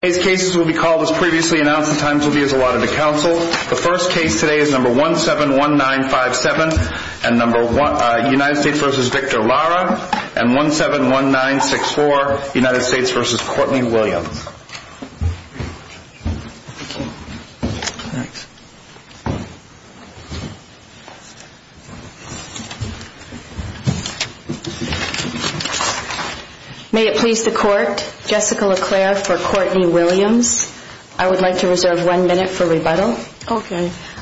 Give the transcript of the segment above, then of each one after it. and 171964, United States v. Courtney Williams. May it please the Court, Jessica LeClaire for Courtney Williams. I would like to reserve one minute for rebuttal.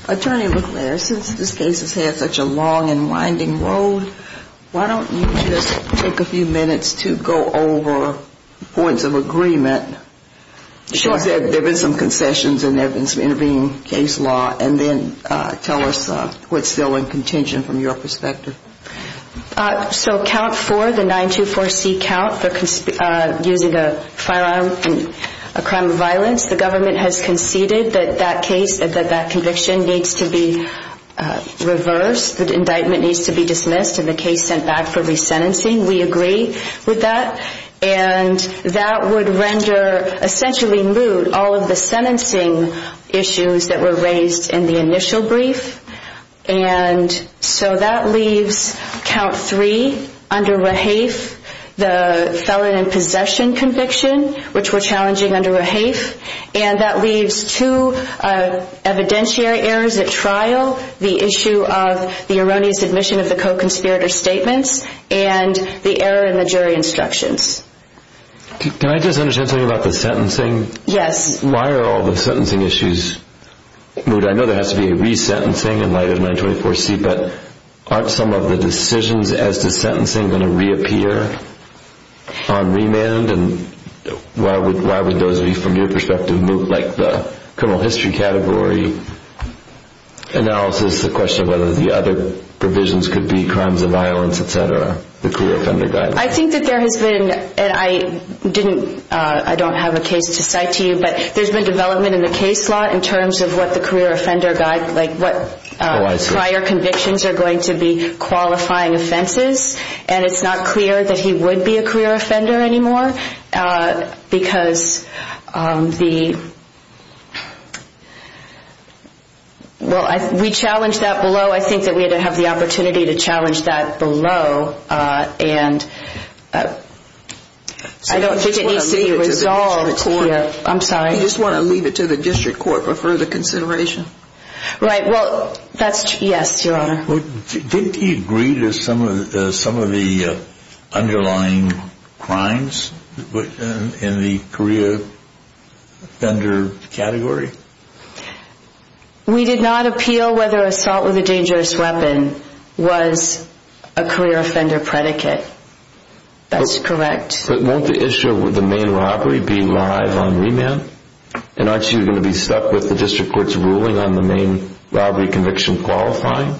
Attorney LeClaire, since this case has had such a long and winding road, why don't you just take a few minutes to go over points of agreement. There have been some concessions and intervening case law and then tell us what's still in contention from your perspective. So count 4, the 924C count, using a firearm in a crime of violence, the government has conceded that that case, that conviction needs to be reversed. The indictment needs to be dismissed and the case sent back for resentencing. We agree with that. And that would render essentially moot all of the sentencing issues that were raised in the initial brief. And so that leaves count 3 under rehafe, the felon in possession conviction, which we're challenging under rehafe. And that leaves two evidentiary errors at trial, the issue of the erroneous admission of the co-conspirator statements and the error in the jury instructions. Can I just understand something about the sentencing? Yes. Why are all the sentencing issues moot? I know there has to be a resentencing in light of 924C, but aren't some of the decisions as to sentencing going to reappear on remand? And why would those be, from your perspective, moot, like the criminal history category analysis, the question of whether the other provisions could be crimes of violence, etc., the career offender guide? I think that there has been, and I don't have a case to cite to you, but there's been development in the case law in terms of what the career offender guide, like what prior convictions are going to be qualifying offenses, and it's not clear that he would be a career offender anymore because the, well, we challenged that below. I think that we have to have the opportunity to challenge that below, and I don't think it needs to be resolved. I just want to leave it to the district court for further consideration. Right, well, that's, yes, your honor. Didn't he agree to some of the underlying crimes in the career offender category? We did not appeal whether assault with a dangerous weapon was a career offender predicate. That's correct. But won't the issue with the main robbery be live on remand? And aren't you going to be stuck with the district court's ruling on the main robbery conviction qualifying?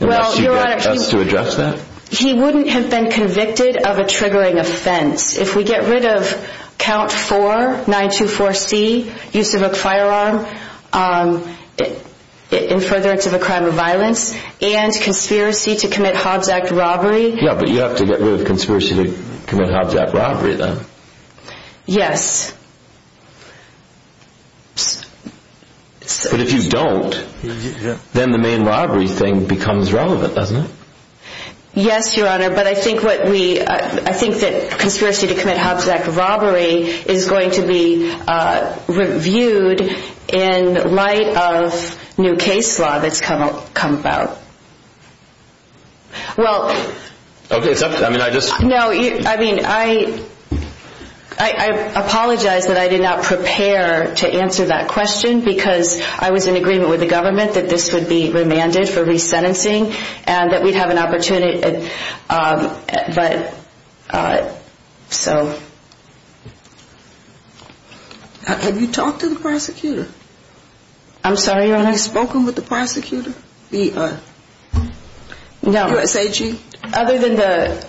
Well, your honor, he wouldn't have been convicted of a triggering offense. If we get rid of count 4, 924C, use of a firearm in furtherance of a crime of violence, and conspiracy to commit Hobbs Act robbery. Yeah, but you have to get rid of conspiracy to commit Hobbs Act robbery then. Yes. But if you don't, then the main robbery thing becomes relevant, doesn't it? Yes, your honor, but I think that conspiracy to commit Hobbs Act robbery is going to be reviewed in light of new case law that's come about. Well, I mean, I apologize that I did not prepare to answer that question because I was in agreement with the government that this would be remanded for resentencing and that we'd have an opportunity, but, so. Have you talked to the prosecutor? Have you spoken with the prosecutor? No. USAG? Other than the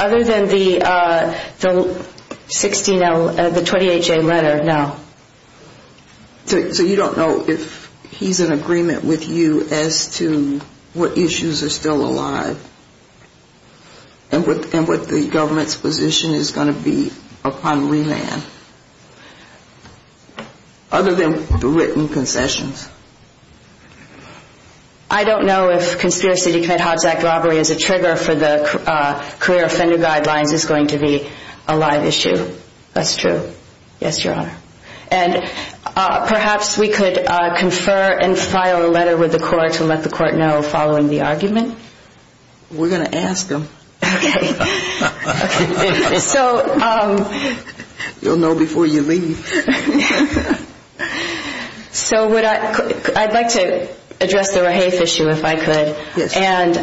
16L, the 28J letter, no. So you don't know if he's in agreement with you as to what issues are still alive and what the government's position is going to be upon remand? Other than written concessions. I don't know if conspiracy to commit Hobbs Act robbery as a trigger for the career offender guidelines is going to be a live issue. That's true. Yes, your honor. And perhaps we could confer and file a letter with the court to let the court know following the argument? We're going to ask them. Okay. You'll know before you leave. So I'd like to address the Rahafe issue if I could. Yes. And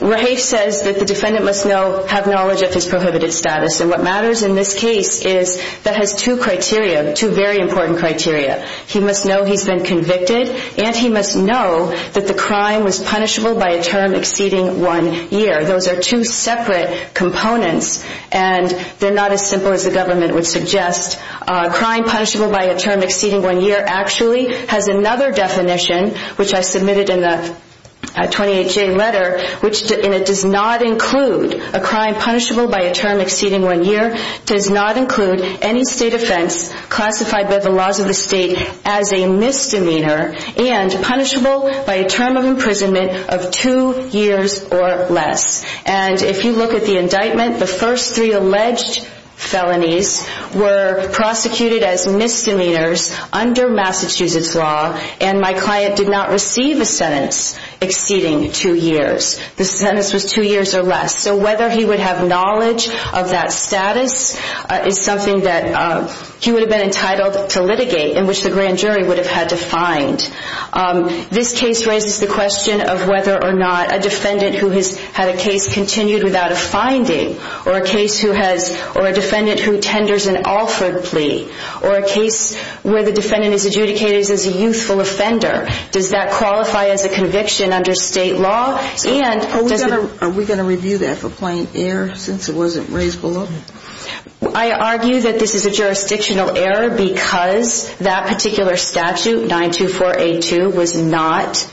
Rahafe says that the defendant must know, have knowledge of his prohibited status. And what matters in this case is that has two criteria, two very important criteria. He must know he's been convicted and he must know that the crime was punishable by a term exceeding one year. Those are two separate components and they're not as simple as the government would suggest. A crime punishable by a term exceeding one year actually has another definition, which I submitted in the 28J letter, and it does not include a crime punishable by a term exceeding one year, does not include any state offense classified by the laws of the state as a misdemeanor, and punishable by a term of imprisonment of two years or less. And if you look at the indictment, the first three alleged felonies were prosecuted as misdemeanors under Massachusetts law, and my client did not receive a sentence exceeding two years. The sentence was two years or less. So whether he would have knowledge of that status is something that he would have been entitled to litigate, in which the grand jury would have had to find. This case raises the question of whether or not a defendant who has had a case continued without a finding, or a defendant who tenders an Alford plea, or a case where the defendant is adjudicated as a youthful offender, does that qualify as a conviction under state law? Are we going to review that for plain error since it wasn't raised below? I argue that this is a jurisdictional error because that particular statute, 924A2, was not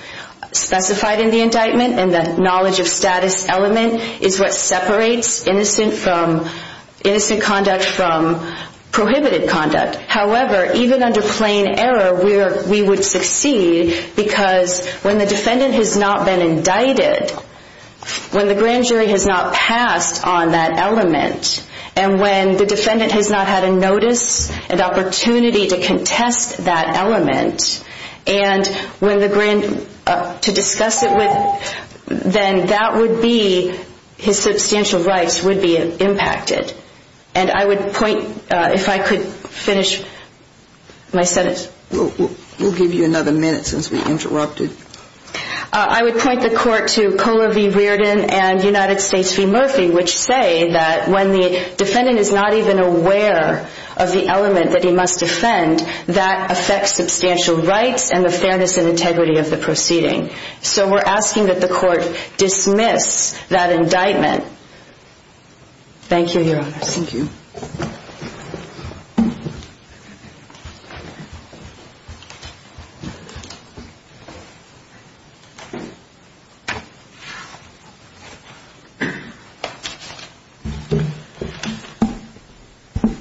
specified in the indictment, and the knowledge of status element is what separates innocent conduct from prohibited conduct. However, even under plain error, we would succeed because when the defendant has not been indicted, when the grand jury has not passed on that element, and when the defendant has not had a notice, an opportunity to contest that element, and to discuss it with, then that would be, his substantial rights would be impacted. And I would point, if I could finish my sentence. We'll give you another minute since we interrupted. I would point the court to Kohler v. Reardon and United States v. Murphy, which say that when the defendant is not even aware of the element that he must defend, that affects substantial rights and the fairness and integrity of the proceeding. So we're asking that the court dismiss that indictment. Thank you, Your Honor. Thank you.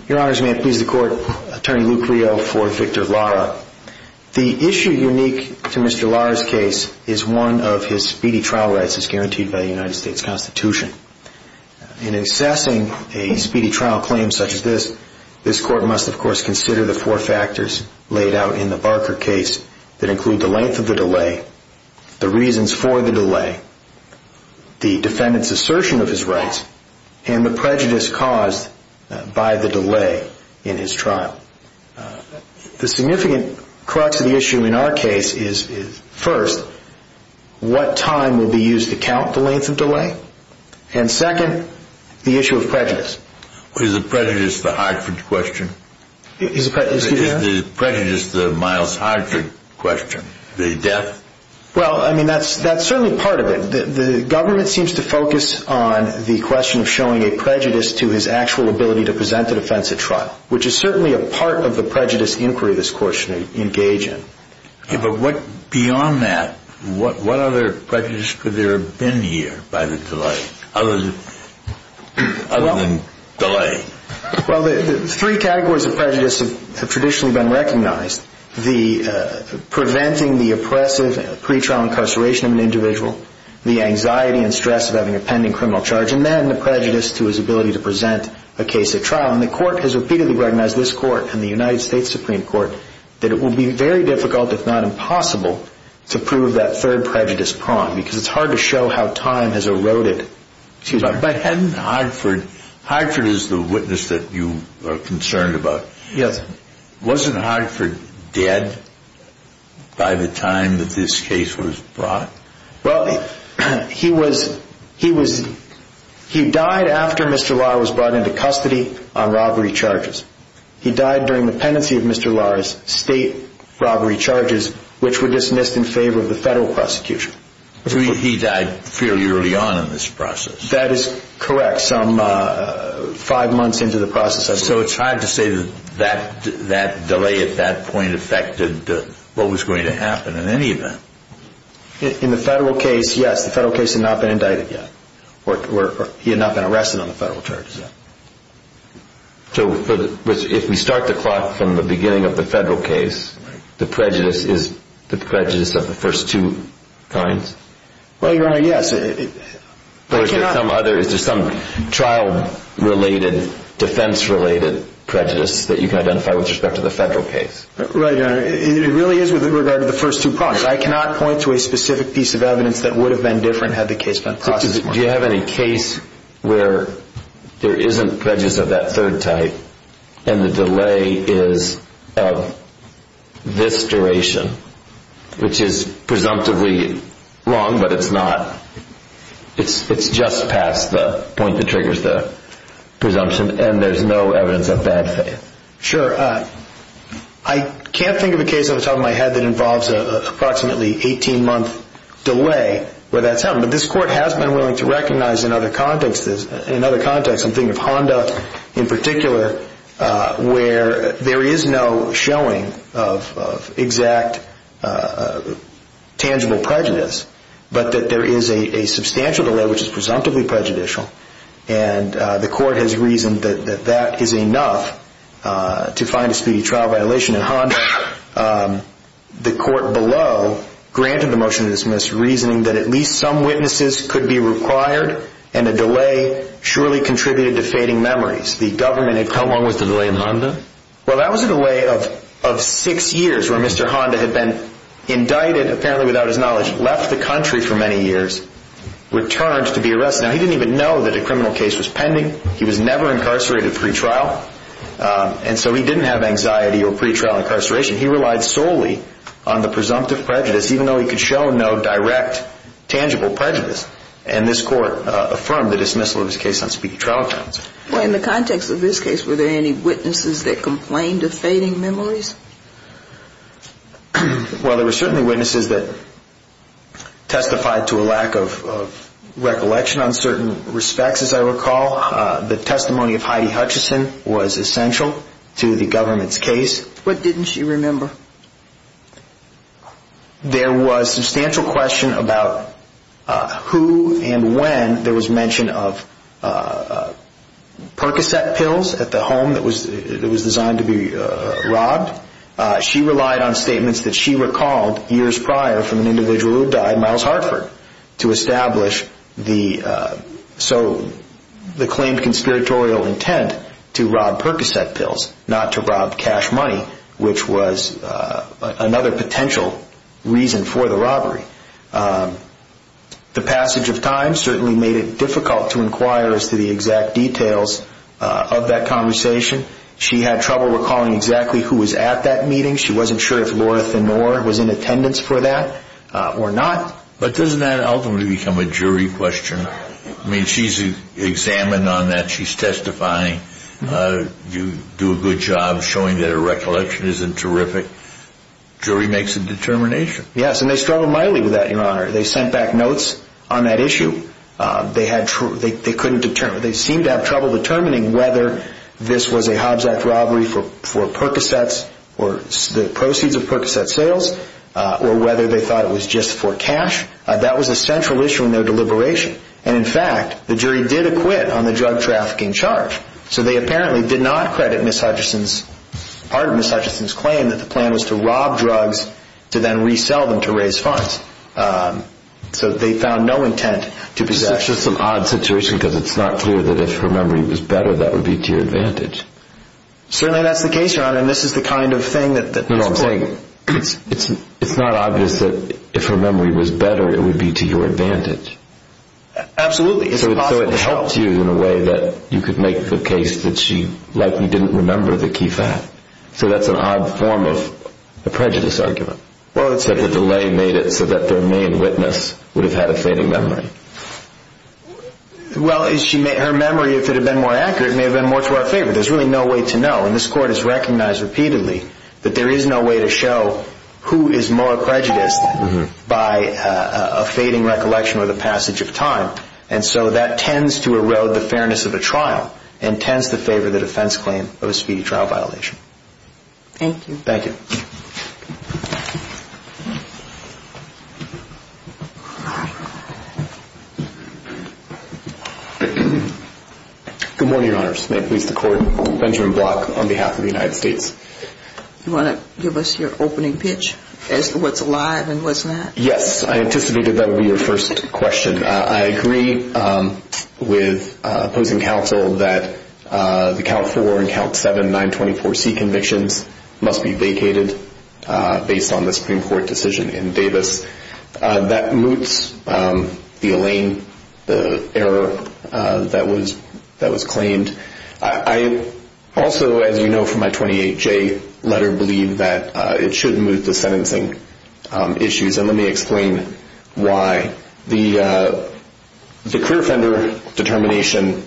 Your Honors, may it please the court, Attorney Luke Creel for Victor Lara. The issue unique to Mr. Lara's case is one of his speedy trial rights as guaranteed by the United States Constitution. In assessing a speedy trial claim such as this, this court must, of course, consider the four factors laid out in the Barker case that include the length of the delay, the reasons for the delay, the defendant's assertion of his rights, and the prejudice caused by the delay in his trial. The significant crux of the issue in our case is, first, what time will be used to count the length of delay? And second, the issue of prejudice. Is the prejudice the Hartford question? Excuse me, Your Honor? Is the prejudice the Miles Hartford question, the death? Well, I mean, that's certainly part of it. The government seems to focus on the question of showing a prejudice to his actual ability to present the defense at trial, which is certainly a part of the prejudice inquiry this court should engage in. But beyond that, what other prejudice could there have been here by the delay, other than delay? Well, the three categories of prejudice have traditionally been recognized. The preventing the oppressive pretrial incarceration of an individual, the anxiety and stress of having a pending criminal charge, and then the prejudice to his ability to present a case at trial. And the court has repeatedly recognized, this court and the United States Supreme Court, that it will be very difficult, if not impossible, to prove that third prejudice prong, because it's hard to show how time has eroded. But hadn't Hartford, Hartford is the witness that you are concerned about. Yes. Wasn't Hartford dead by the time that this case was brought? Well, he was, he was, he died after Mr. Lahr was brought into custody on robbery charges. He died during the pendency of Mr. Lahr's state robbery charges, which were dismissed in favor of the federal prosecution. So he died fairly early on in this process. That is correct, some five months into the process. So it's hard to say that that delay at that point affected what was going to happen in any event. In the federal case, yes. The federal case had not been indicted yet, or he had not been arrested on the federal charges yet. So if we start the clock from the beginning of the federal case, the prejudice is the prejudice of the first two crimes? Well, Your Honor, yes. There's some trial-related, defense-related prejudice that you can identify with respect to the federal case. Right, Your Honor. It really is with regard to the first two crimes. I cannot point to a specific piece of evidence that would have been different had the case been processed more. Do you have any case where there isn't prejudice of that third type, and the delay is of this duration, which is presumptively wrong, but it's not? It's just past the point that triggers the presumption, and there's no evidence of bad faith? Sure. I can't think of a case off the top of my head that involves an approximately 18-month delay where that's happened. But this Court has been willing to recognize in other contexts. I'm thinking of Honda in particular, where there is no showing of exact tangible prejudice, but that there is a substantial delay which is presumptively prejudicial, and the Court has reasoned that that is enough to find a speedy trial violation in Honda. The Court below granted the motion to dismiss, reasoning that at least some witnesses could be required, and a delay surely contributed to fading memories. How long was the delay in Honda? Well, that was a delay of six years, where Mr. Honda had been indicted, apparently without his knowledge, left the country for many years, returned to be arrested. Now, he didn't even know that a criminal case was pending. He was never incarcerated pre-trial, and so he didn't have anxiety or pre-trial incarceration. He relied solely on the presumptive prejudice, even though he could show no direct tangible prejudice. And this Court affirmed the dismissal of his case on speedy trial grounds. Well, in the context of this case, were there any witnesses that complained of fading memories? Well, there were certainly witnesses that testified to a lack of recollection on certain respects, as I recall. The testimony of Heidi Hutchison was essential to the government's case. What didn't she remember? There was substantial question about who and when there was mention of Percocet pills at the home that was designed to be robbed. She relied on statements that she recalled years prior from an individual who died, Myles Hartford, to establish the claimed conspiratorial intent to rob Percocet pills, not to rob cash money, which was another potential reason for the robbery. The passage of time certainly made it difficult to inquire as to the exact details of that conversation. She had trouble recalling exactly who was at that meeting. She wasn't sure if Laura Thanore was in attendance for that or not. But doesn't that ultimately become a jury question? I mean, she's examined on that. She's testifying. You do a good job showing that her recollection isn't terrific. Jury makes a determination. Yes, and they struggled mightily with that, Your Honor. They sent back notes on that issue. They seemed to have trouble determining whether this was a Hobbs Act robbery for Percocet or the proceeds of Percocet sales or whether they thought it was just for cash. That was a central issue in their deliberation. And, in fact, the jury did acquit on the drug trafficking charge. So they apparently did not credit part of Ms. Hutchison's claim that the plan was to rob drugs to then resell them to raise funds. So they found no intent to possess. This is just an odd situation because it's not clear that if her memory was better, that would be to your advantage. Certainly that's the case, Your Honor, and this is the kind of thing that is important. No, no, I'm saying it's not obvious that if her memory was better, it would be to your advantage. Absolutely. So it helps you in a way that you could make the case that she likely didn't remember the key fact. So that's an odd form of a prejudice argument. Well, it's that the delay made it so that their main witness would have had a fading memory. Well, her memory, if it had been more accurate, may have been more to our favor. There's really no way to know. And this Court has recognized repeatedly that there is no way to show who is more prejudiced by a fading recollection or the passage of time. And so that tends to erode the fairness of a trial and tends to favor the defense claim of a speedy trial violation. Thank you. Thank you. Good morning, Your Honors. May it please the Court, Benjamin Block on behalf of the United States. Do you want to give us your opening pitch as to what's alive and what's not? Yes. I anticipated that would be your first question. I agree with opposing counsel that the Count 4 and Count 7 924C convictions must be vacated based on the Supreme Court decision in Davis. That moots the Elaine, the error that was claimed. I also, as you know from my 28J letter, believe that it should moot the sentencing issues. And let me explain why. The career offender determination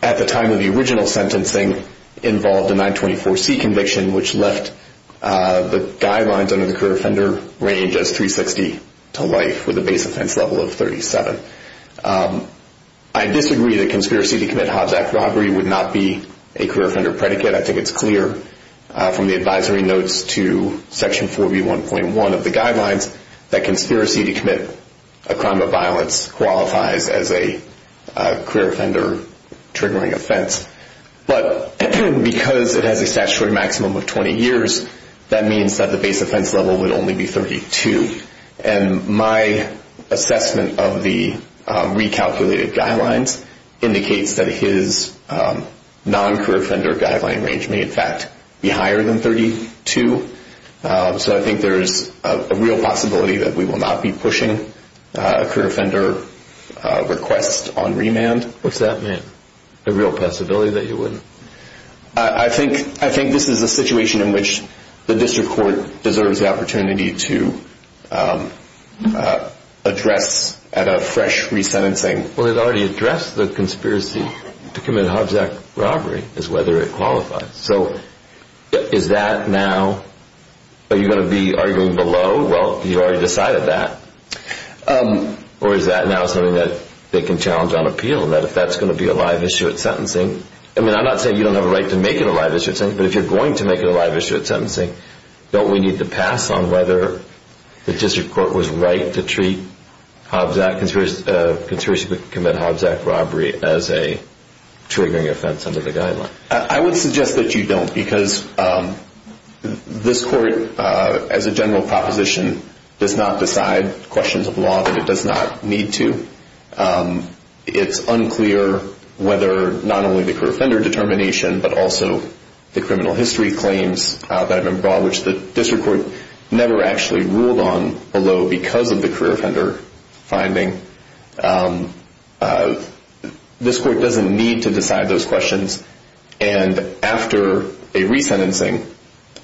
at the time of the original sentencing involved a 924C conviction, which left the guidelines under the career offender range as 360 to life with a base offense level of 37. I disagree that conspiracy to commit Hobbs Act robbery would not be a career offender predicate. I think it's clear from the advisory notes to Section 4B1.1 of the guidelines that conspiracy to commit a crime of violence qualifies as a career offender triggering offense. But because it has a statutory maximum of 20 years, that means that the base offense level would only be 32. And my assessment of the recalculated guidelines indicates that his non-career offender guideline range may in fact be higher than 32. So I think there's a real possibility that we will not be pushing a career offender request on remand. What's that mean? A real possibility that you wouldn't? I think this is a situation in which the district court deserves the opportunity to address at a fresh resentencing. Well, it already addressed the conspiracy to commit Hobbs Act robbery is whether it qualifies. So is that now, are you going to be arguing below? Well, you already decided that. Or is that now something that they can challenge on appeal and that if that's going to be a live issue at sentencing? I mean, I'm not saying you don't have a right to make it a live issue at sentencing, but if you're going to make it a live issue at sentencing, don't we need to pass on whether the district court was right to treat conspiracy to commit Hobbs Act robbery as a triggering offense under the guideline? I would suggest that you don't because this court, as a general proposition, does not decide questions of law that it does not need to. It's unclear whether not only the career offender determination, but also the criminal history claims that have been brought, which the district court never actually ruled on below because of the career offender finding. This court doesn't need to decide those questions. And after a re-sentencing,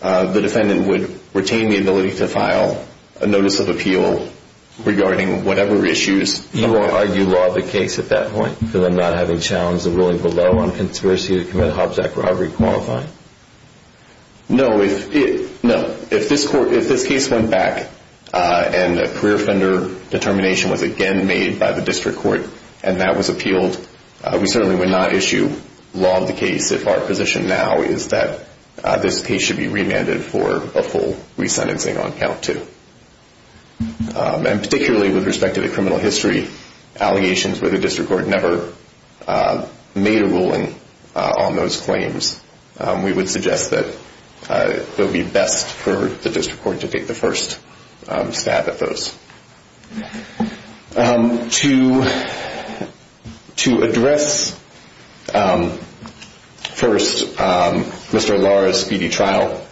the defendant would retain the ability to file a notice of appeal regarding whatever issues. You won't argue law of the case at that point because I'm not having challenged the ruling below on conspiracy to commit Hobbs Act robbery qualifying? No, if this case went back and a career offender determination was again made by the district court and that was appealed, we certainly would not issue law of the case if our position now is that this case should be remanded for a full re-sentencing on count two. And particularly with respect to the criminal history allegations where the district court never made a ruling on those claims, we would suggest that it would be best for the district court to take the first stab at those. To address first Mr. Lara's speedy trial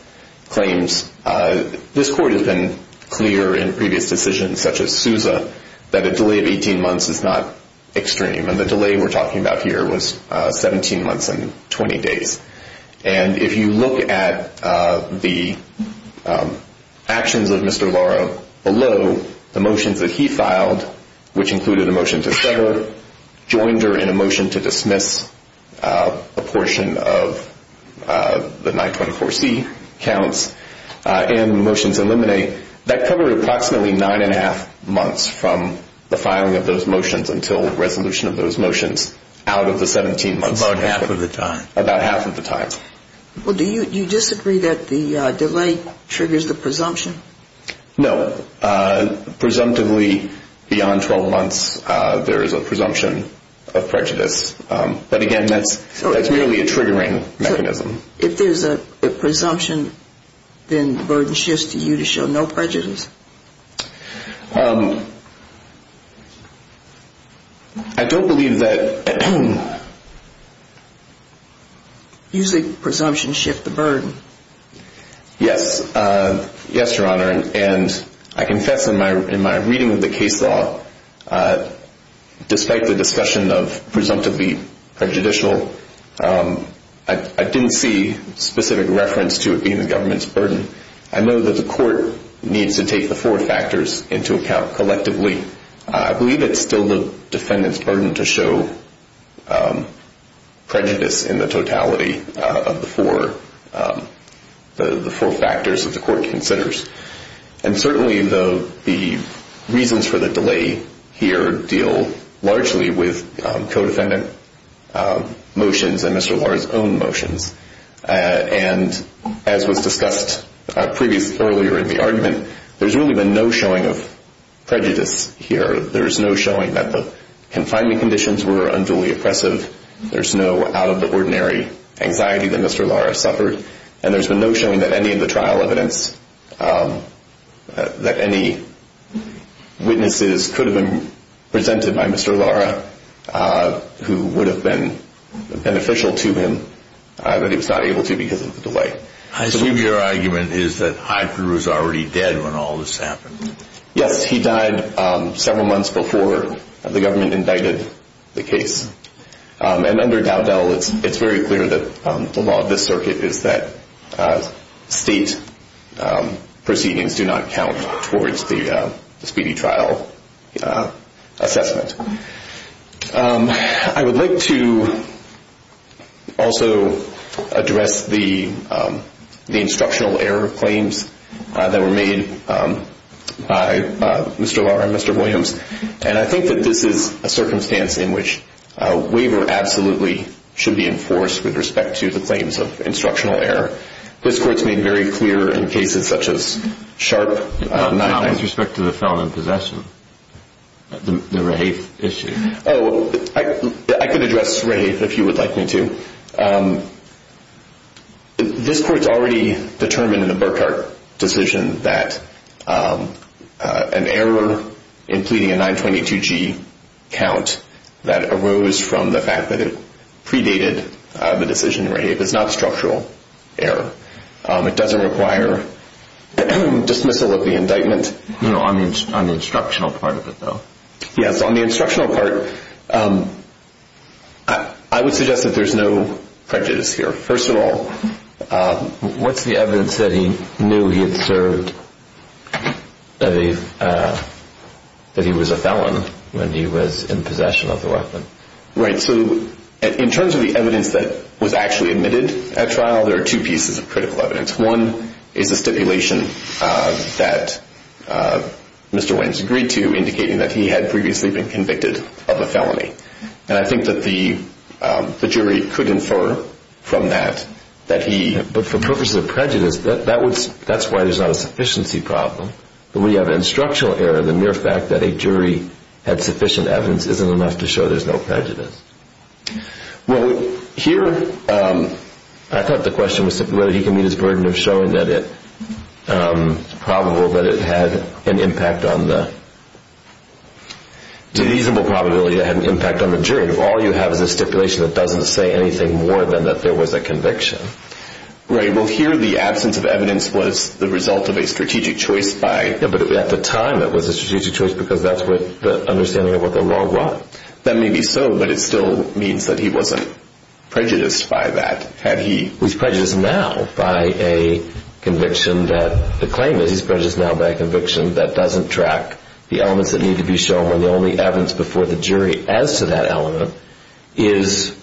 claims, this court has been clear in previous decisions such as Sousa that a delay of 18 months is not extreme. And the delay we're talking about here was 17 months and 20 days. And if you look at the actions of Mr. Lara below, the motions that he filed, which included a motion to sever, joined her in a motion to dismiss a portion of the 924C counts and motions eliminate, that covered approximately nine and a half months from the filing of those motions until resolution of those motions out of the 17 months. About half of the time. Well, do you disagree that the delay triggers the presumption? No. Presumptively, beyond 12 months, there is a presumption of prejudice. But again, that's merely a triggering mechanism. If there's a presumption, then the burden shifts to you to show no prejudice? I don't believe that... Usually presumptions shift the burden. Yes. Yes, Your Honor. And I confess in my reading of the case law, despite the discussion of presumptively prejudicial, I didn't see specific reference to it being the government's burden. I know that the court needs to take the four factors into account collectively. I believe it's still the defendant's burden to show prejudice in the totality of the four factors that the court considers. And certainly the reasons for the delay here deal largely with co-defendant motions and Mr. Lara's own motions. And as was discussed earlier in the argument, there's really been no showing of prejudice here. There's no showing that the confining conditions were unduly oppressive. There's no out-of-the-ordinary anxiety that Mr. Lara suffered. And there's been no showing that any of the trial evidence, that any witnesses could have been presented by Mr. Lara, who would have been beneficial to him, but he was not able to because of the delay. I assume your argument is that Heitner was already dead when all this happened. Yes, he died several months before the government indicted the case. And under Dowdell, it's very clear that the law of this circuit is that state proceedings do not count towards the speedy trial assessment. I would like to also address the instructional error claims that were made by Mr. Lara and Mr. Williams. And I think that this is a circumstance in which a waiver absolutely should be enforced with respect to the claims of instructional error. This court's made very clear in cases such as Sharp, Nile. With respect to the felon in possession, the Raiffe issue. Oh, I could address Raiffe if you would like me to. This court's already determined in the Burkhart decision that an error in pleading a 922G count that arose from the fact that it predated the decision in Raiffe is not a structural error. It doesn't require dismissal of the indictment on the instructional part of it, though. Yes, on the instructional part, I would suggest that there's no prejudice here. First of all, what's the evidence that he knew he had served, that he was a felon when he was in possession of the weapon? Right, so in terms of the evidence that was actually admitted at trial, there are two pieces of critical evidence. One is a stipulation that Mr. Williams agreed to, indicating that he had previously been convicted of a felony. And I think that the jury could infer from that that he... But for purposes of prejudice, that's why there's not a sufficiency problem. When you have an instructional error, the mere fact that a jury had sufficient evidence isn't enough to show there's no prejudice. Well, here, I thought the question was whether he can meet his burden of showing that it's probable that it had an impact on the... Deleasable probability that it had an impact on the jury. All you have is a stipulation that doesn't say anything more than that there was a conviction. Right, well, here the absence of evidence was the result of a strategic choice by... Yeah, but at the time it was a strategic choice because that's what the understanding of what the law was. That may be so, but it still means that he wasn't prejudiced by that, had he... He's prejudiced now by a conviction that the claim is he's prejudiced now by a conviction that doesn't track the elements that need to be shown. And the only evidence before the jury as to that element is,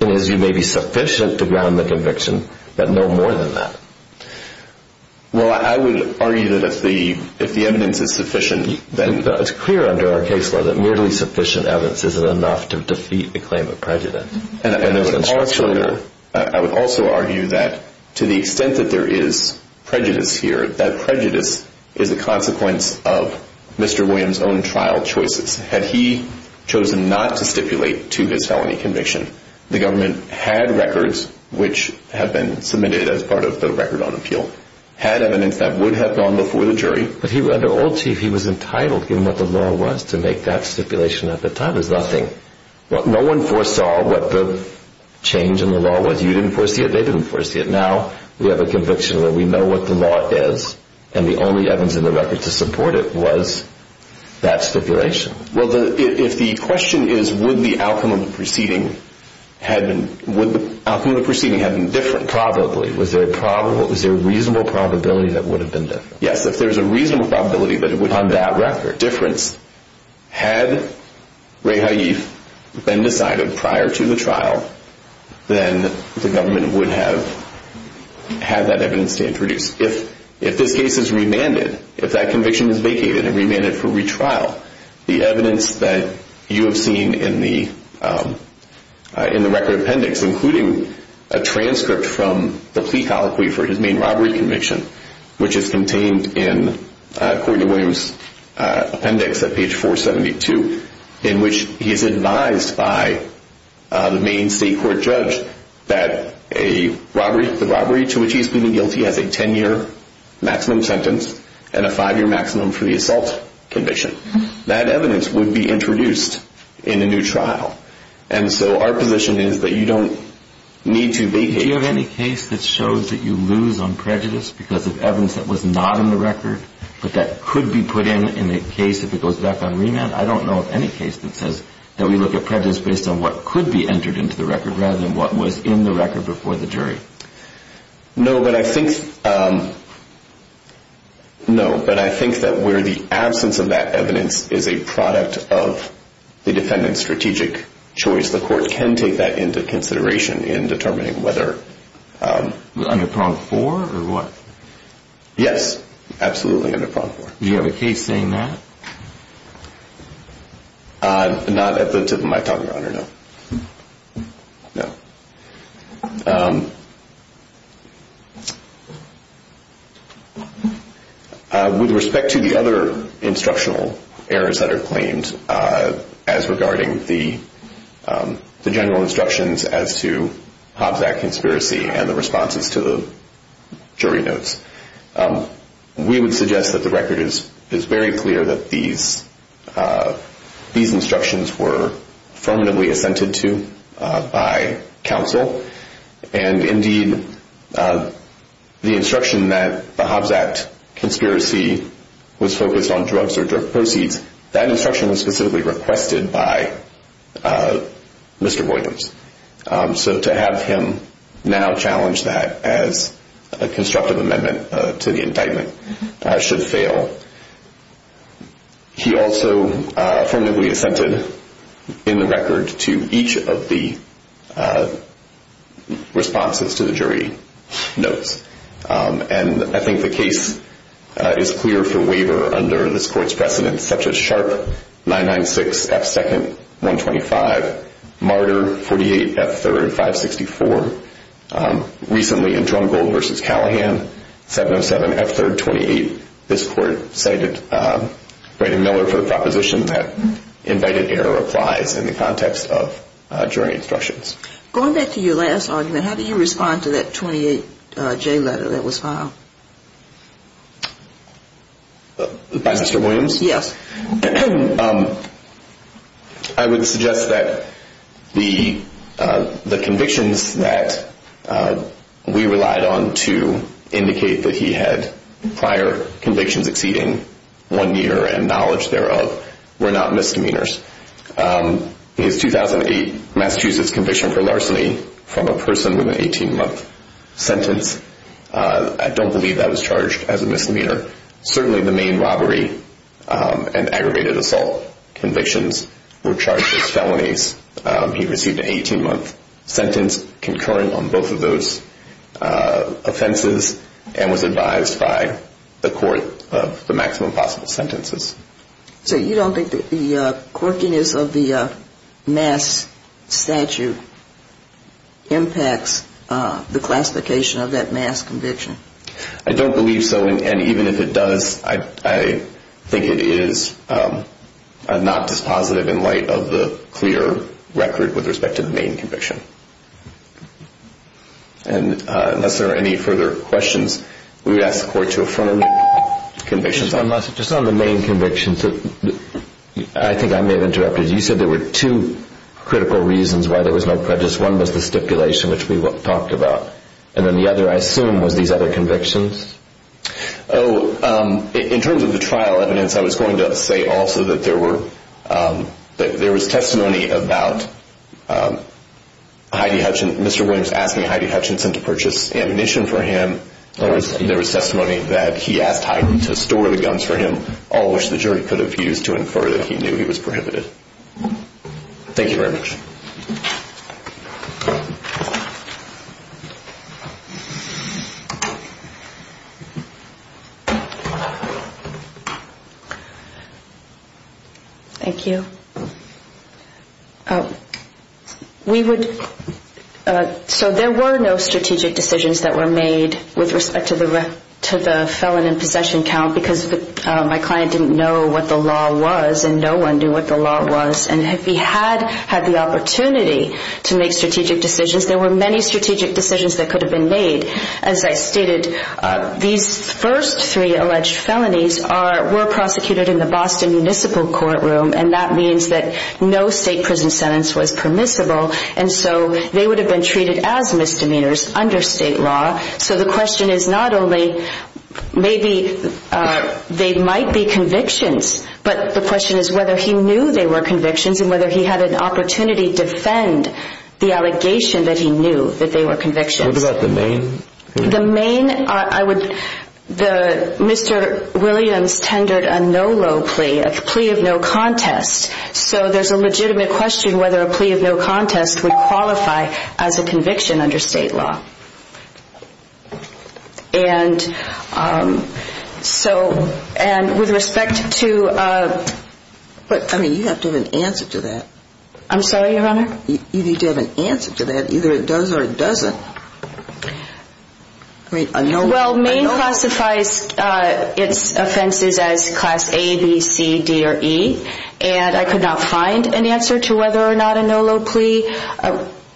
in his view, maybe sufficient to ground the conviction, but no more than that. Well, I would argue that if the evidence is sufficient, then... It's clear under our case law that merely sufficient evidence isn't enough to defeat the claim of prejudice. I would also argue that to the extent that there is prejudice here, that prejudice is a consequence of Mr. Williams' own trial choices. Had he chosen not to stipulate to his felony conviction, the government had records, which have been submitted as part of the Record on Appeal, had evidence that would have gone before the jury... But under Old Chief he was entitled, given what the law was, to make that stipulation at the time. It was nothing. No one foresaw what the change in the law was. You didn't foresee it, they didn't foresee it. Now we have a conviction where we know what the law is, and the only evidence in the record to support it was that stipulation. Well, if the question is, would the outcome of the proceeding have been different? Probably. Was there a reasonable probability that it would have been different? Yes, if there's a reasonable probability that it would have been different, had Ray Haif been decided prior to the trial, then the government would have had that evidence to introduce. If this case is remanded, if that conviction is vacated and remanded for retrial, the evidence that you have seen in the record appendix, including a transcript from the plea colloquy for his main robbery conviction, which is contained in, according to William's appendix at page 472, in which he's advised by the main state court judge that the robbery to which he's pleading guilty has a 10-year maximum sentence and a 5-year maximum for the assault conviction, that evidence would be introduced in a new trial. And so our position is that you don't need to vacate... Do you have any case that shows that you lose on prejudice because of evidence that was not in the record, but that could be put in in a case if it goes back on remand? I don't know of any case that says that we look at prejudice based on what could be entered into the record rather than what was in the record before the jury. No, but I think that where the absence of that evidence is a product of the defendant's strategic choice, the court can take that into consideration in determining whether... Under prong four or what? Yes, absolutely under prong four. Do you have a case saying that? Not at the tip of my tongue, Your Honor, no. No. Okay. With respect to the other instructional errors that are claimed as regarding the general instructions as to Hobbs Act conspiracy and the responses to the jury notes, we would suggest that the record is very clear that these instructions were affirmatively assented to by counsel. And indeed, the instruction that the Hobbs Act conspiracy was focused on drugs or drug proceeds, that instruction was specifically requested by Mr. Williams. So to have him now challenge that as a constructive amendment to the indictment should fail. He also affirmatively assented in the record to each of the responses to the jury notes. And I think the case is clear for waiver under this court's precedents, such as Sharp 996 F2nd 125, Martyr 48 F3rd 564. Recently in Drumgold v. Callahan, 707 F3rd 28, this court cited Brady Miller for the proposition that invited error applies in the context of jury instructions. Going back to your last argument, how do you respond to that 28J letter that was filed? By Mr. Williams? Yes. I would suggest that the convictions that we relied on to indicate that he had prior convictions exceeding one year and knowledge thereof were not misdemeanors. His 2008 Massachusetts conviction for larceny from a person with an 18-month sentence, I don't believe that was charged as a misdemeanor. Certainly the main robbery and aggravated assault convictions were charged as felonies. He received an 18-month sentence concurrent on both of those offenses and was advised by the court of the maximum possible sentences. So you don't think that the quirkiness of the mass statute impacts the classification of that mass conviction? I don't believe so. And even if it does, I think it is not dispositive in light of the clear record with respect to the main conviction. And unless there are any further questions, we would ask the court to affirm the convictions. Just on the main convictions, I think I may have interrupted. You said there were two critical reasons why there was no prejudice. One was the stipulation, which we talked about. And then the other, I assume, was these other convictions? Oh, in terms of the trial evidence, I was going to say also that there was testimony about Heidi Hutchinson, Mr. Williams asking Heidi Hutchinson to purchase ammunition for him. There was testimony that he asked Heidi to store the guns for him, all which the jury could have used to infer that he knew he was prohibited. Thank you very much. Thank you. So there were no strategic decisions that were made with respect to the felon in possession count because my client didn't know what the law was and no one knew what the law was. And if he had had the opportunity to make strategic decisions, there were many strategic decisions that could have been made. As I stated, these first three alleged felonies were prosecuted in the Boston Municipal Courtroom, and that means that no state prison sentence was permissible, and so they would have been treated as misdemeanors under state law. So the question is not only maybe they might be convictions, but the question is whether he knew they were convictions and whether he had an opportunity to defend the allegation that he knew that they were convictions. What about the main? The main, I would, Mr. Williams tendered a no-low plea, a plea of no contest, so there's a legitimate question whether a plea of no contest would qualify as a conviction under state law. And so, and with respect to... I mean, you have to have an answer to that. I'm sorry, Your Honor? You need to have an answer to that. Either it does or it doesn't. Well, main classifies its offenses as class A, B, C, D, or E, and I could not find an answer to whether or not a no-low plea,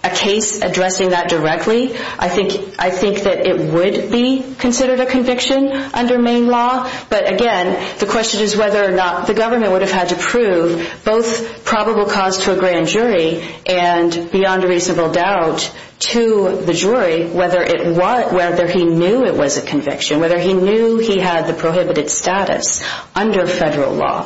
a case addressing that directly. I think that it would be considered a conviction under main law, but again, the question is whether or not the government would have had to prove both probable cause to a grand jury and beyond a reasonable doubt to the jury whether he knew it was a conviction, whether he knew he had the prohibited status under federal law. Thank you.